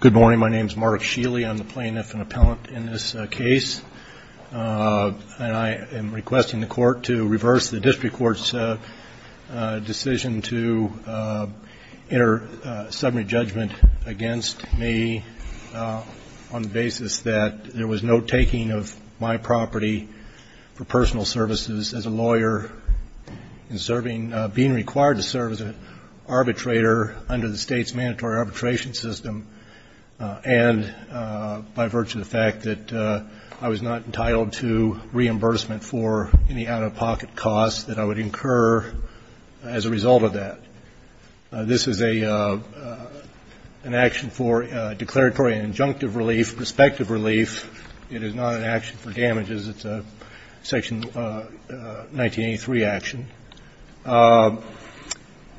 Good morning. My name is Mark Sheeley. I'm the plaintiff and appellant in this case. I am requesting the court to reverse the district court's decision to enter a summary judgment against me on the basis that there was no taking of my property for personal services as a lawyer and being required to serve as an arbitrator under the state's mandatory arbitration system and by virtue of the fact that I was not entitled to reimbursement for any out-of-pocket costs that I would incur as a result of that. This is an action for declaratory and injunctive relief, prospective relief. It is not an action for damages. It's a Section 1983 action.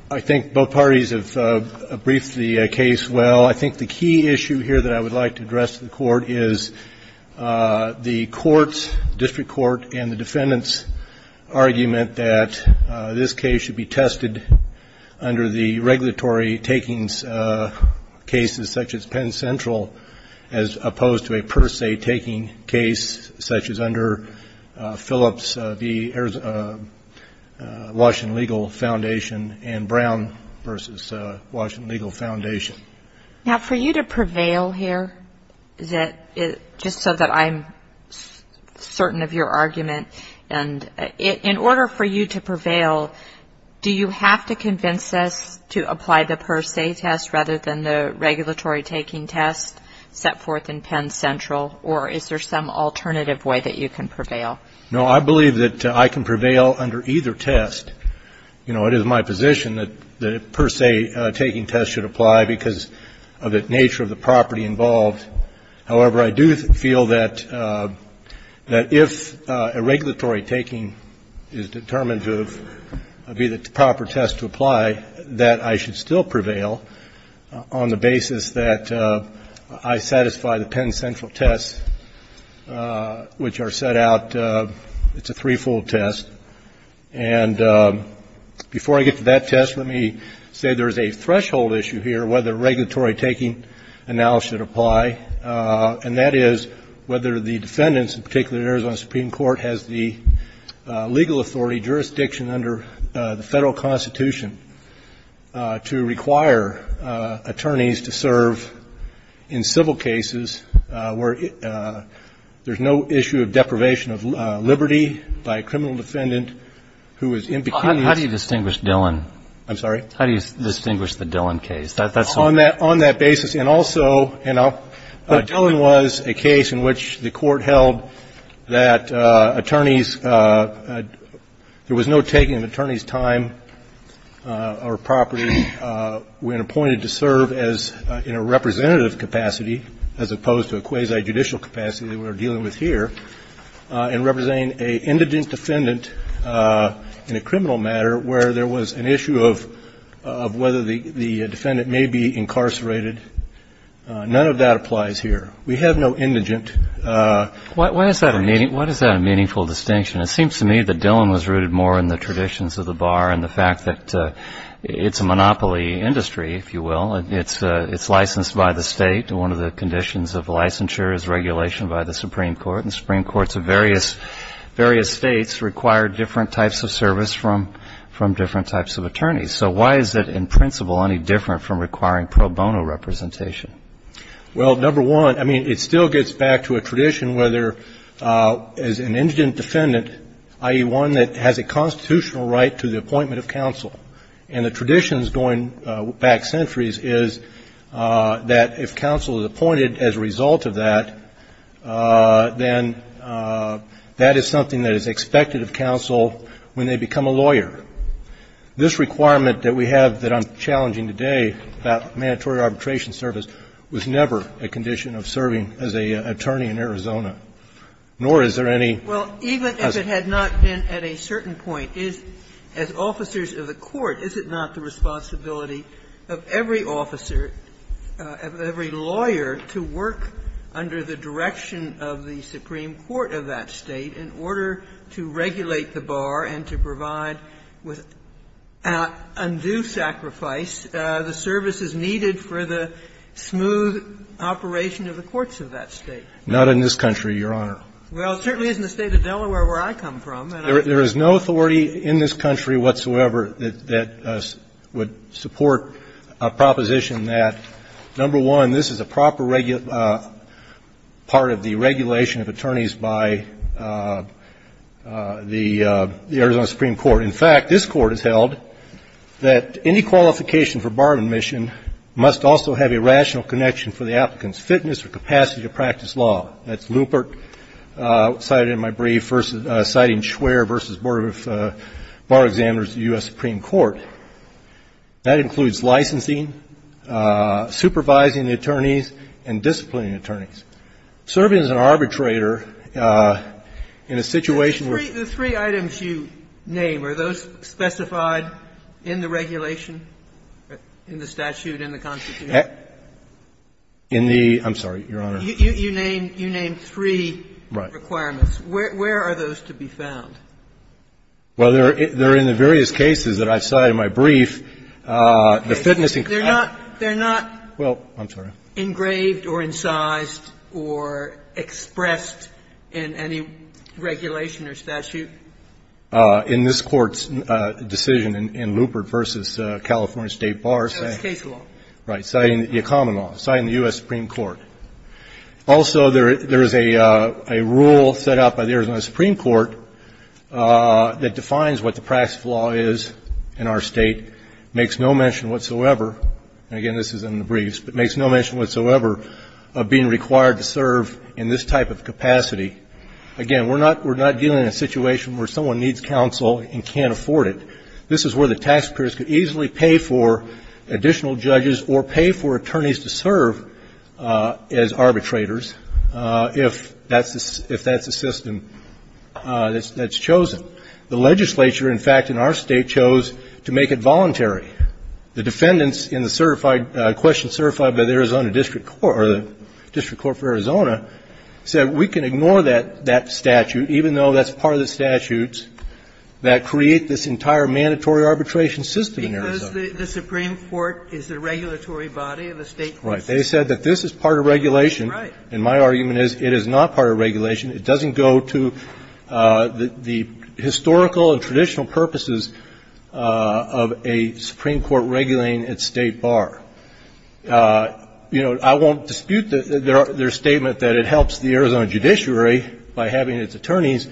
I think both parties have briefed the case well. I think the key issue here that I would like to address to the Court is the Court's and the defendant's argument that this case should be tested under the regulatory takings cases such as Penn Central as opposed to a per se taking case such as under Phillips v. Washington Legal Foundation and Brown v. Washington Legal Foundation. Now, for you to prevail here, just so that I'm certain of your argument, and in order for you to prevail, do you have to convince us to apply the per se test rather than the regulatory taking test set forth in Penn Central, or is there some alternative way that you can prevail? No, I believe that I can prevail under either test. It is my position that the per se taking test should apply because of the nature of the property involved. However, I do feel that if a regulatory taking is determined to be the proper test to apply, that I should still prevail on the basis that I satisfy the Penn Central tests, which are set out. It's a three-fold test. And before I get to that test, let me say there is a threshold issue here whether regulatory taking analysis should apply, and that is whether the defendants, in particular the Arizona Supreme Court, has the legal authority jurisdiction under the federal Constitution to require attorneys to serve in civil cases where there's no issue of deprivation of liberty by a criminal defendant who is impecunious. How do you distinguish Dillon? I'm sorry? How do you distinguish the Dillon case? On that basis. And also, you know, Dillon was a case in which the Court held that attorneys there was no taking of attorney's time or property when appointed to serve as in a representative capacity as opposed to a quasi-judicial capacity that we are dealing with here, in representing an indigent defendant in a criminal matter where there was an issue of whether the defendant may be incarcerated. None of that applies here. We have no indigent. Why is that a meaningful distinction? It seems to me that Dillon was rooted more in the traditions of the bar and the fact that it's a monopoly industry, if you will. It's licensed by the state. One of the conditions of licensure is regulation by the Supreme Court, and Supreme Courts of various states require different types of service from different types of attorneys. So why is it, in principle, any different from requiring pro bono representation? Well, number one, I mean, it still gets back to a tradition where there is an indigent defendant, i.e., one that has a constitutional right to the appointment of counsel. And the tradition going back centuries is that if counsel is appointed as a result of that, then that is something that is expected of counsel when they become a lawyer. This requirement that we have that I'm challenging today about mandatory arbitration service was never a condition of serving as an attorney in Arizona, nor is there any as a lawyer. Well, even if it had not been at a certain point, as officers of the court, is it not the responsibility of every officer, of every lawyer, to work under the direction of the Supreme Court of that State in order to regulate the bar and to provide with undue sacrifice the services needed for the smooth operation of the courts of that State? Not in this country, Your Honor. Well, it certainly isn't the State of Delaware where I come from. There is no authority in this country whatsoever that would support a proposition that, number one, this is a proper part of the regulation of attorneys by the Arizona Supreme Court. In fact, this Court has held that any qualification for bar admission must also have a rational connection for the applicant's fitness or capacity to practice law. That's Lupert cited in my brief citing Schwerer v. Board of Bar Examiners of the U.S. Supreme Court. That includes licensing, supervising the attorneys, and disciplining attorneys. Serving as an arbitrator in a situation where the three items you name, are those specified in the regulation, in the statute, in the Constitution? In the – I'm sorry, Your Honor. You name three requirements. Where are those to be found? Well, they're in the various cases that I've cited in my brief. The fitness and capacity. They're not engraved or incised or expressed in any regulation or statute? In this Court's decision in Lupert v. California State Bar. So it's case law. Right. Citing the common law. Citing the U.S. Supreme Court. Also, there is a rule set out by the Arizona Supreme Court that defines what the practice of law is in our state. Makes no mention whatsoever, and again this is in the briefs, but makes no mention whatsoever of being required to serve in this type of capacity. Again, we're not dealing in a situation where someone needs counsel and can't afford it. This is where the taxpayers could easily pay for additional judges or pay for as arbitrators if that's the system that's chosen. The legislature, in fact, in our state chose to make it voluntary. The defendants in the question certified by the Arizona district court or the district court for Arizona said we can ignore that statute, even though that's part of the statutes that create this entire mandatory arbitration system in Arizona. Because the Supreme Court is the regulatory body and the state courts. Right. They said that this is part of regulation. Right. And my argument is it is not part of regulation. It doesn't go to the historical and traditional purposes of a Supreme Court regulating its state bar. You know, I won't dispute their statement that it helps the Arizona judiciary by having its attorneys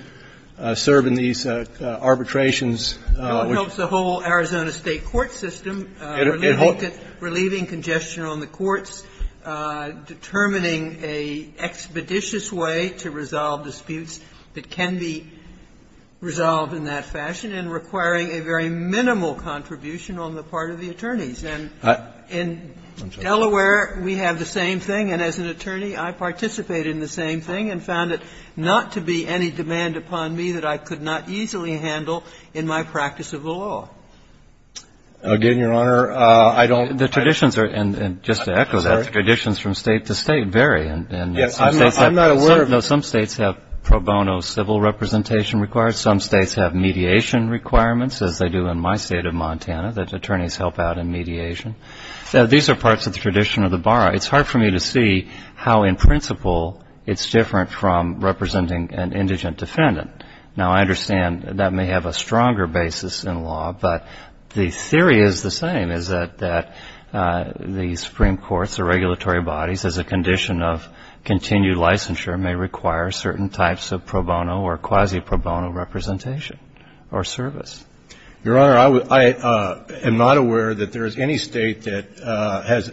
serve in these arbitrations. It helps the whole Arizona state court system. Relieving congestion on the courts, determining an expeditious way to resolve disputes that can be resolved in that fashion and requiring a very minimal contribution on the part of the attorneys. And in Delaware, we have the same thing. And as an attorney, I participated in the same thing and found it not to be any demand upon me that I could not easily handle in my practice of the law. Again, Your Honor, I don't. The traditions are, and just to echo that, the traditions from state to state vary. Yes. I'm not aware of it. Some states have pro bono civil representation required. Some states have mediation requirements as they do in my state of Montana. The attorneys help out in mediation. These are parts of the tradition of the bar. It's hard for me to see how in principle it's different from representing an indigent defendant. Now, I understand that may have a stronger basis in law, but the theory is the same, is that the Supreme Court's or regulatory bodies, as a condition of continued licensure, may require certain types of pro bono or quasi pro bono representation or service. Your Honor, I am not aware that there is any state that has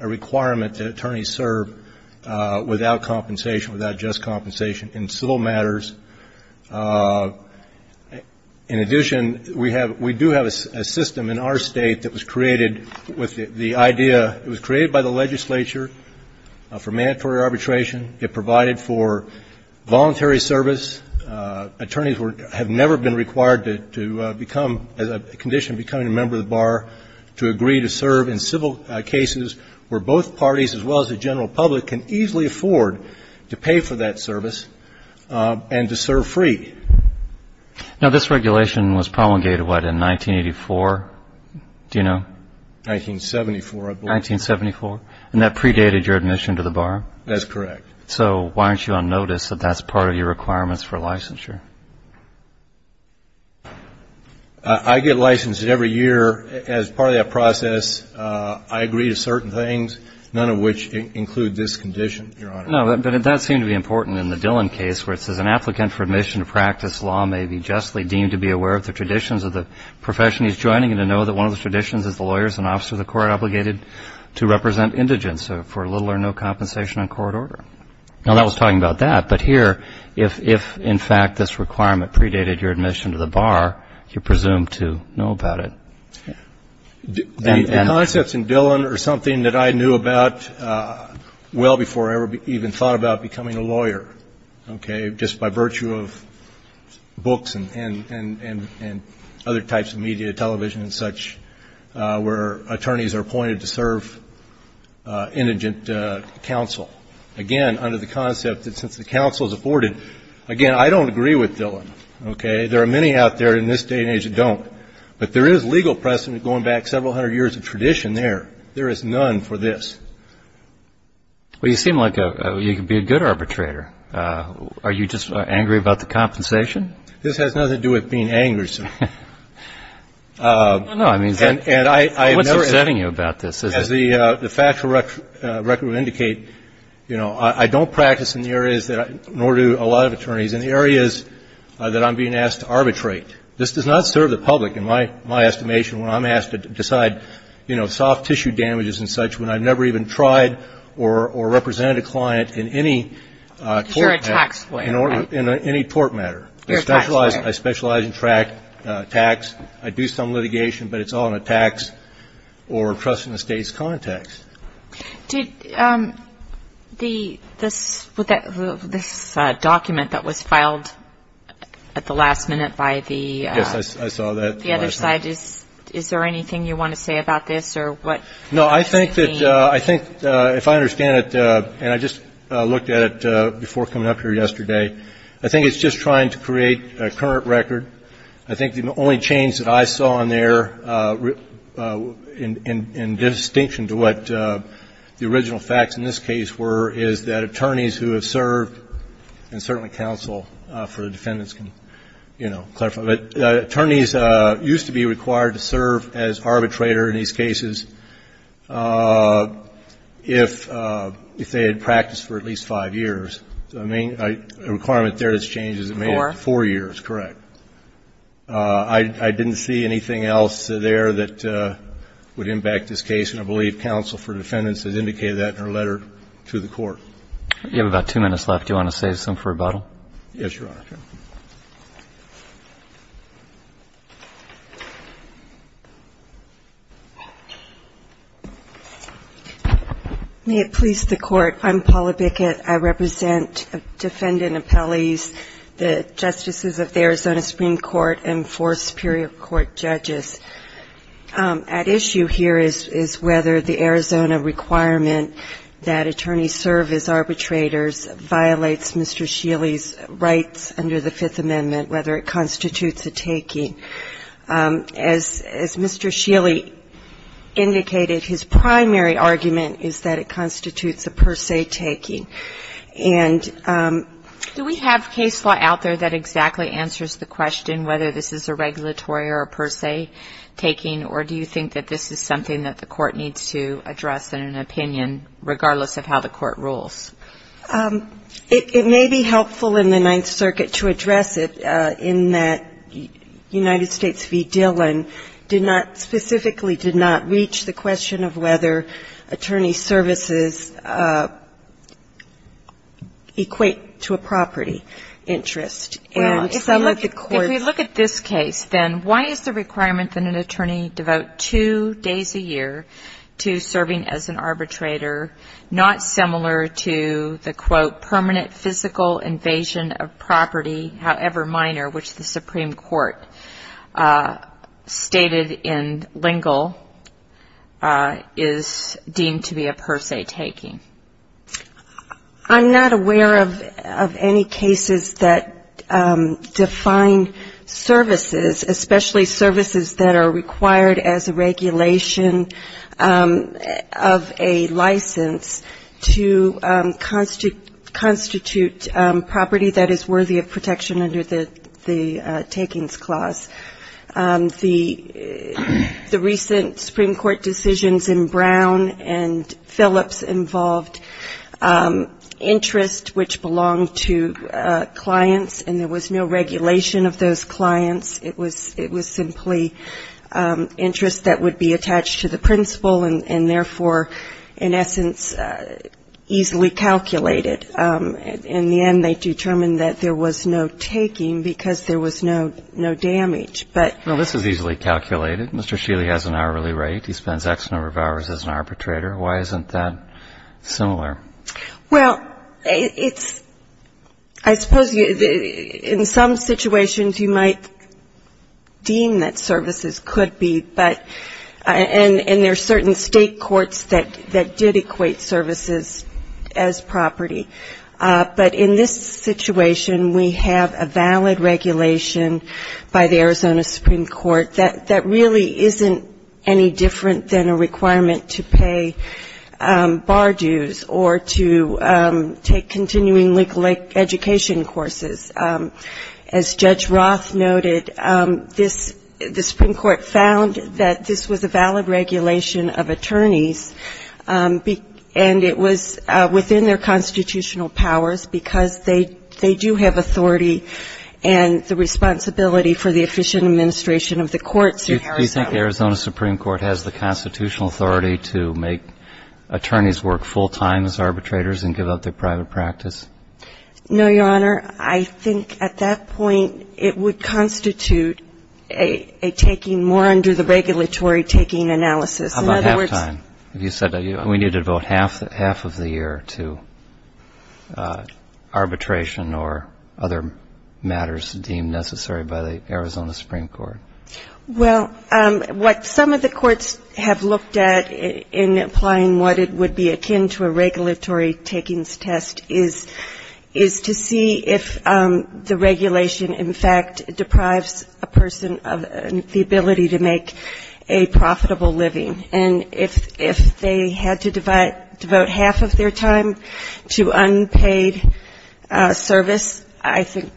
a requirement that this be done. In addition, we do have a system in our state that was created with the idea, it was created by the legislature for mandatory arbitration. It provided for voluntary service. Attorneys have never been required to become, as a condition of becoming a member of the bar, to agree to serve in civil cases where both parties, as well as the general public, can easily afford to pay for that service and to serve free. Now, this regulation was promulgated, what, in 1984? Do you know? 1974, I believe. 1974? And that predated your admission to the bar? That's correct. So why aren't you on notice that that's part of your requirements for licensure? I get licensed every year. As part of that process, I agree to certain things, none of which include this condition, Your Honor. No, but that seemed to be important in the Dillon case, where it says, an applicant for admission to practice law may be justly deemed to be aware of the traditions of the profession he's joining and to know that one of those traditions is the lawyer is an officer of the court obligated to represent indigents for little or no compensation on court order. Now, that was talking about that, but here, if, in fact, this requirement predated your admission to the bar, you're presumed to know about it. The concepts in Dillon are something that I knew about well before I ever even thought about becoming a lawyer, okay, just by virtue of books and other types of media, television and such, where attorneys are appointed to serve indigent counsel. Again, under the concept that since the counsel is afforded, again, I don't agree with Dillon, okay? There are many out there in this day and age that don't. But there is legal precedent going back several hundred years of tradition there. There is none for this. Well, you seem like you could be a good arbitrator. Are you just angry about the compensation? This has nothing to do with being angry, sir. No, I mean, what's upsetting you about this? As the factual record would indicate, you know, I don't practice in the areas that I do, nor do a lot of attorneys, in the areas that I'm being asked to arbitrate. This does not serve the public, in my estimation, when I'm asked to decide, you know, soft tissue damages and such, when I've never even tried or represented a client in any tort matter. Because you're a tax player, right? In any tort matter. You're a tax player. I specialize in tax. I do some litigation, but it's all in a tax or trust in the state's context. Did this document that was filed at the last minute by the other side, is there anything you want to say about this? No, I think that if I understand it, and I just looked at it before coming up here yesterday, I think it's just trying to create a current record. I think the only change that I saw in there, in distinction to what the original facts in this case were, is that attorneys who have served, and certainly counsel for defendants can, you know, clarify, but attorneys used to be required to serve as arbitrator in these cases if they had practiced for at least five years. So the main requirement there that's changed is it made it four years, correct. I didn't see anything else there that would impact this case, and I believe counsel for defendants has indicated that in her letter to the court. You have about two minutes left. Do you want to save some for rebuttal? Yes, Your Honor. May it please the Court, I'm Paula Bickett. I represent defendant appellees, the justices of the Arizona Supreme Court, and four Superior Court judges. At issue here is whether the Arizona requirement that attorneys serve as arbitrators violates Mr. Sheely's rights under the Fifth Amendment, whether it constitutes a taking. As Mr. Sheely indicated, his primary argument is that it constitutes a per se taking. And do we have case law out there that exactly answers the question whether this is a regulatory or a per se taking, or do you think that this is something that the court needs to address in an opinion, regardless of how the court rules? It may be helpful in the Ninth Circuit to address it in that United States v. Dillon did not, specifically did not reach the question of whether attorney services equate to a property interest. Well, if we look at this case, then, why is the requirement that an attorney devote two days a year to serving as an arbitrator not similar to the, quote, permanent physical invasion of property, however minor, which the Supreme Court stated in Lingle, is deemed to be a per se taking? I'm not aware of any cases that define services, especially services that are required as a regulation of a license to constitute property that is worthy of protection under the takings clause. The recent Supreme Court decisions in Brown and Phillips involved interest which belonged to clients, and there was no regulation of those clients. It was simply interest that would be attached to the principal, and therefore, in essence, easily calculated. In the end, they determined that there was no taking because there was no damage. Well, this is easily calculated. Mr. Sheely has an hourly rate. He spends X number of hours as an arbitrator. Why isn't that similar? Well, it's – I suppose in some situations, you might deem that services could be, but – and there are certain state courts that did equate services as property. But in this situation, we have a valid regulation by the Arizona Supreme Court that really isn't any different than a requirement to pay bar dues or to take continuing legal education courses. As Judge Roth noted, this – the Supreme Court found that this was a valid regulation of attorneys, and it was within their constitutional powers because they do have authority and the responsibility for the efficient administration of the courts in Arizona. Do you think Arizona Supreme Court has the constitutional authority to make attorneys work full-time as arbitrators and give up their private practice? No, Your Honor. I think at that point, it would constitute a taking more under the regulatory taking analysis. How about half-time? You said that we needed about half of the year to arbitration or other matters deemed necessary by the Arizona Supreme Court. Well, what some of the courts have looked at in applying what it would be akin to a regulatory takings test is the see if the regulation, in fact, deprives a person of the ability to make a profitable living. And if they had to devote half of their time to unpaid service, I think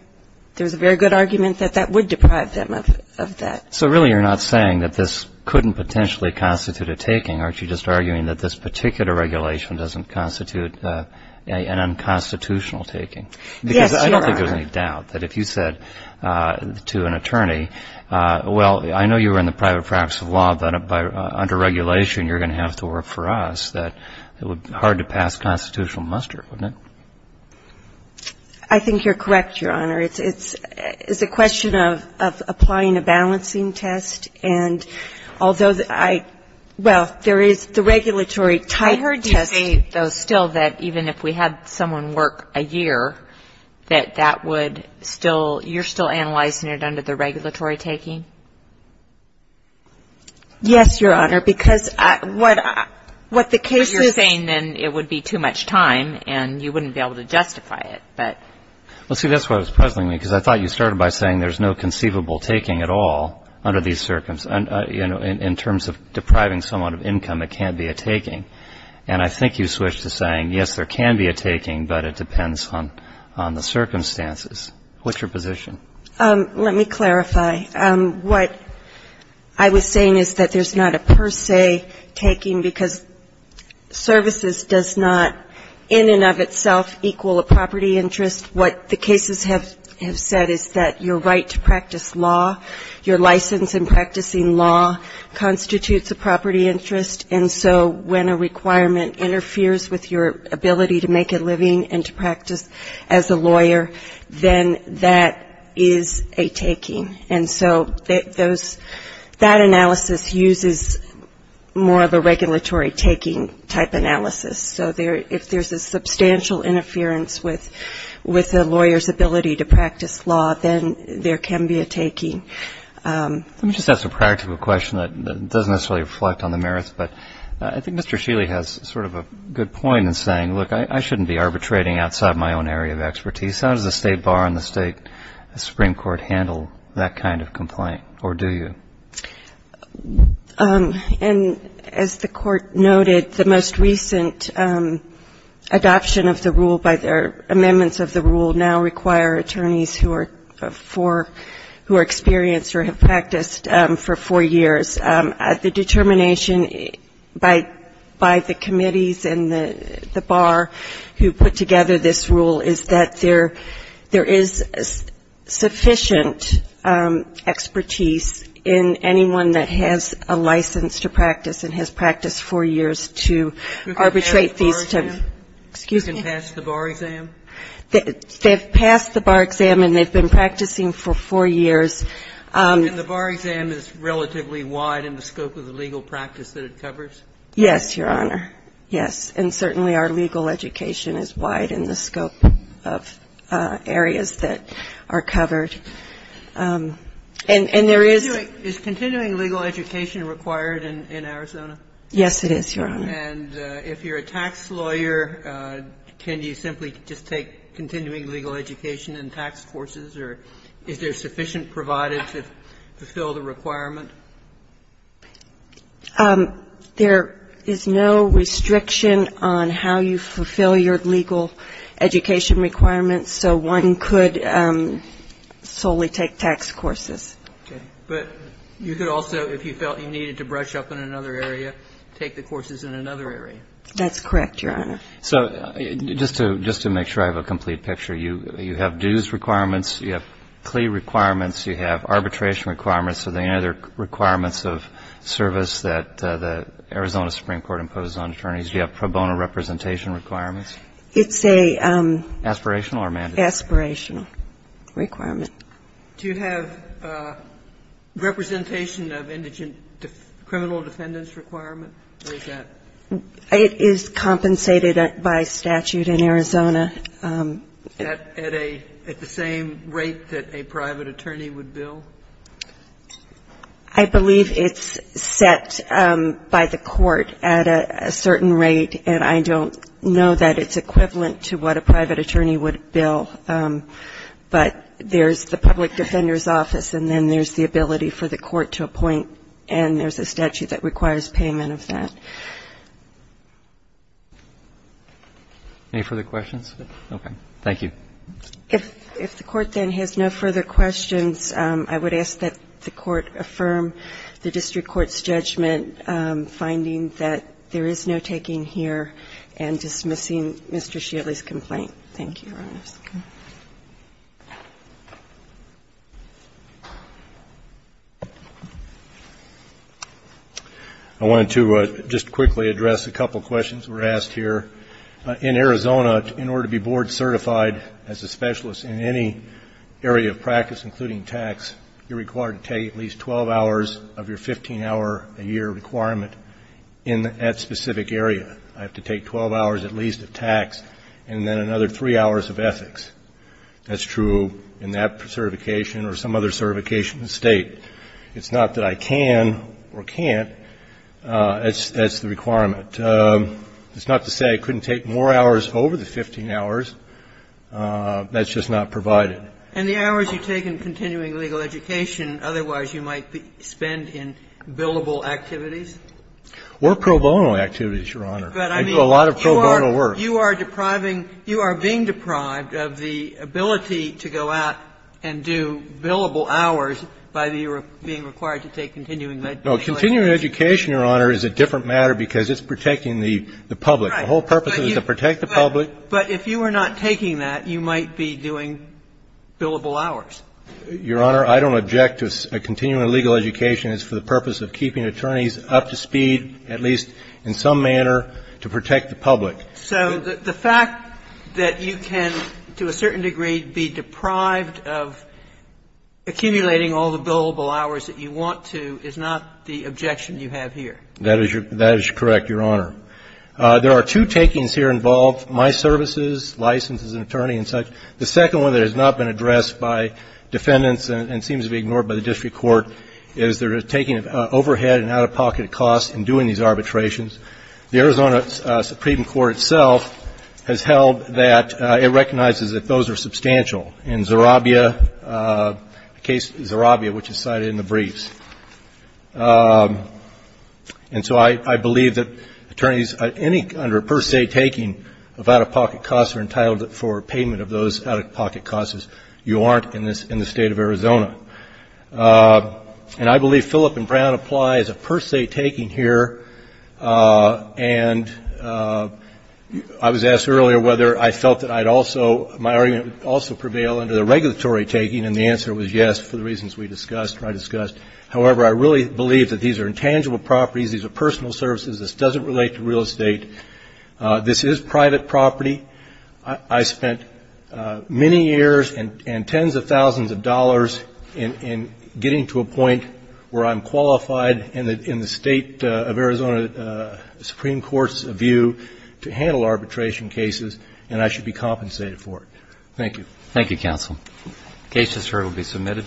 there's a very good argument that that would deprive them of that. So really you're not saying that this couldn't potentially constitute a taking. Aren't you just arguing that this particular regulation doesn't constitute an unconstitutional taking? Yes, Your Honor. Because I don't think there's any doubt that if you said to an attorney, well, I know you were in the private practice of law, but under regulation, you're going to have to work for us, that it would be hard to pass constitutional muster, wouldn't it? I think you're correct, Your Honor. It's a question of applying a balancing test. And although I – well, there is the regulatory test. I heard you say, though, still, that even if we had someone work a year, that that would still – you're still analyzing it under the regulatory taking? Yes, Your Honor, because what the case is – But you're saying then it would be too much time and you wouldn't be able to justify it, but – Well, see, that's why I was puzzling you, because I thought you started by saying there's no conceivable taking at all under these – in terms of depriving someone of income, it can't be a taking. And I think you switched to saying, yes, there can be a taking, but it depends on the circumstances. What's your position? Let me clarify. What I was saying is that there's not a per se taking, because services does not in and of itself equal a property interest. What the cases have said is that your right to practice law, your license in practicing law, constitutes a property interest. And so when a requirement interferes with your ability to make a living and to practice as a lawyer, then that is a taking. And so those – that analysis uses more of a regulatory taking type analysis. So there – if there's a substantial interference with a lawyer's ability to practice law, then there can be a taking. Let me just ask a practical question that doesn't necessarily reflect on the merits, but I think Mr. Shealy has sort of a good point in saying, look, I shouldn't be arbitrating outside my own area of expertise. How does the State Bar and the State Supreme Court handle that kind of complaint, or do you? And as the Court noted, the most recent adoption of the rule by their amendments of the rule now require attorneys who are experienced or have practiced for four years. The determination by the committees and the bar who put together this rule is that there is sufficient expertise in the practice of law, and there is sufficient expertise in the practice of practice of law. And there is sufficient expertise in anyone that has a license to practice and has practiced four years to arbitrate these two. You can pass the bar exam? They've passed the bar exam, and they've been practicing for four years. And the bar exam is relatively wide in the scope of the legal practice that it covers? Yes, Your Honor. Yes. And certainly our legal education is wide in the scope of areas that are covered. And there is Is continuing legal education required in Arizona? Yes, it is, Your Honor. And if you're a tax lawyer, can you simply just take continuing legal education and tax courses, or is there sufficient provided to fulfill the requirement? There is no restriction on how you fulfill your legal education requirements. So one could solely take tax courses. Okay. But you could also, if you felt you needed to brush up in another area, take the courses in another area? That's correct, Your Honor. So just to make sure I have a complete picture, you have dues requirements, you have plea requirements, you have arbitration requirements. Are there any other requirements of service that the Arizona Supreme Court imposes on attorneys? Do you have pro bono representation requirements? It's a aspirational requirement. Do you have representation of indigent criminal defendants requirement? It is compensated by statute in Arizona. At the same rate that a private attorney would bill? I believe it's set by the court at a certain rate, and I don't know that it's set by the court. It's equivalent to what a private attorney would bill, but there's the public defender's office, and then there's the ability for the court to appoint, and there's a statute that requires payment of that. Any further questions? Okay. Thank you. If the court then has no further questions, I would ask that the court affirm the district court's judgment, finding that there is no taking here, and dismissing Mr. Shealy's complaint. Thank you, Your Honor. I wanted to just quickly address a couple questions were asked here. In Arizona, in order to be board certified as a specialist in any area of practice, including tax, you're required to take at least 12 hours of your 15-hour-a-year requirement in that specific area. I have to take 12 hours at least of tax, and then another three hours of ethics. That's true in that certification or some other certification in the State. It's not that I can or can't. That's the requirement. It's not to say I couldn't take more hours over the 15 hours. That's just not provided. And the hours you take in continuing legal education, otherwise you might spend in billable activities? Or pro bono activities, Your Honor. I do a lot of pro bono work. But, I mean, you are depriving you are being deprived of the ability to go out and do billable hours by being required to take continuing legal education. No, continuing education, Your Honor, is a different matter because it's protecting the public. The whole purpose is to protect the public. But if you are not taking that, you might be doing billable hours. Your Honor, I don't object to continuing legal education. It's for the purpose of keeping attorneys up to speed, at least in some manner, to protect the public. So the fact that you can, to a certain degree, be deprived of accumulating all the billable hours that you want to is not the objection you have here? That is correct, Your Honor. There are two takings here involved, my services, license as an attorney and such. The second one that has not been addressed by defendants and seems to be ignored by the district court is they're taking overhead and out-of-pocket costs in doing these arbitrations. The Arizona Supreme Court itself has held that it recognizes that those are substantial. In Zerabia, the case Zerabia, which is cited in the briefs. And so I believe that attorneys under a per se taking of out-of-pocket costs are entitled for payment of those out-of-pocket costs if you aren't in the State of Arizona. And I believe Philip and Brown apply as a per se taking here. And I was asked earlier whether I felt that I'd also, my argument would also prevail under the regulatory taking. And the answer was yes, for the reasons we discussed, or I discussed. However, I really believe that these are intangible properties. These are personal services. This doesn't relate to real estate. This is private property. I spent many years and tens of thousands of dollars in getting to a point where I'm qualified in the State of Arizona Supreme Court's view to handle arbitration cases, and I should be compensated for it. Thank you. Thank you, counsel. Cases, sir, will be submitted.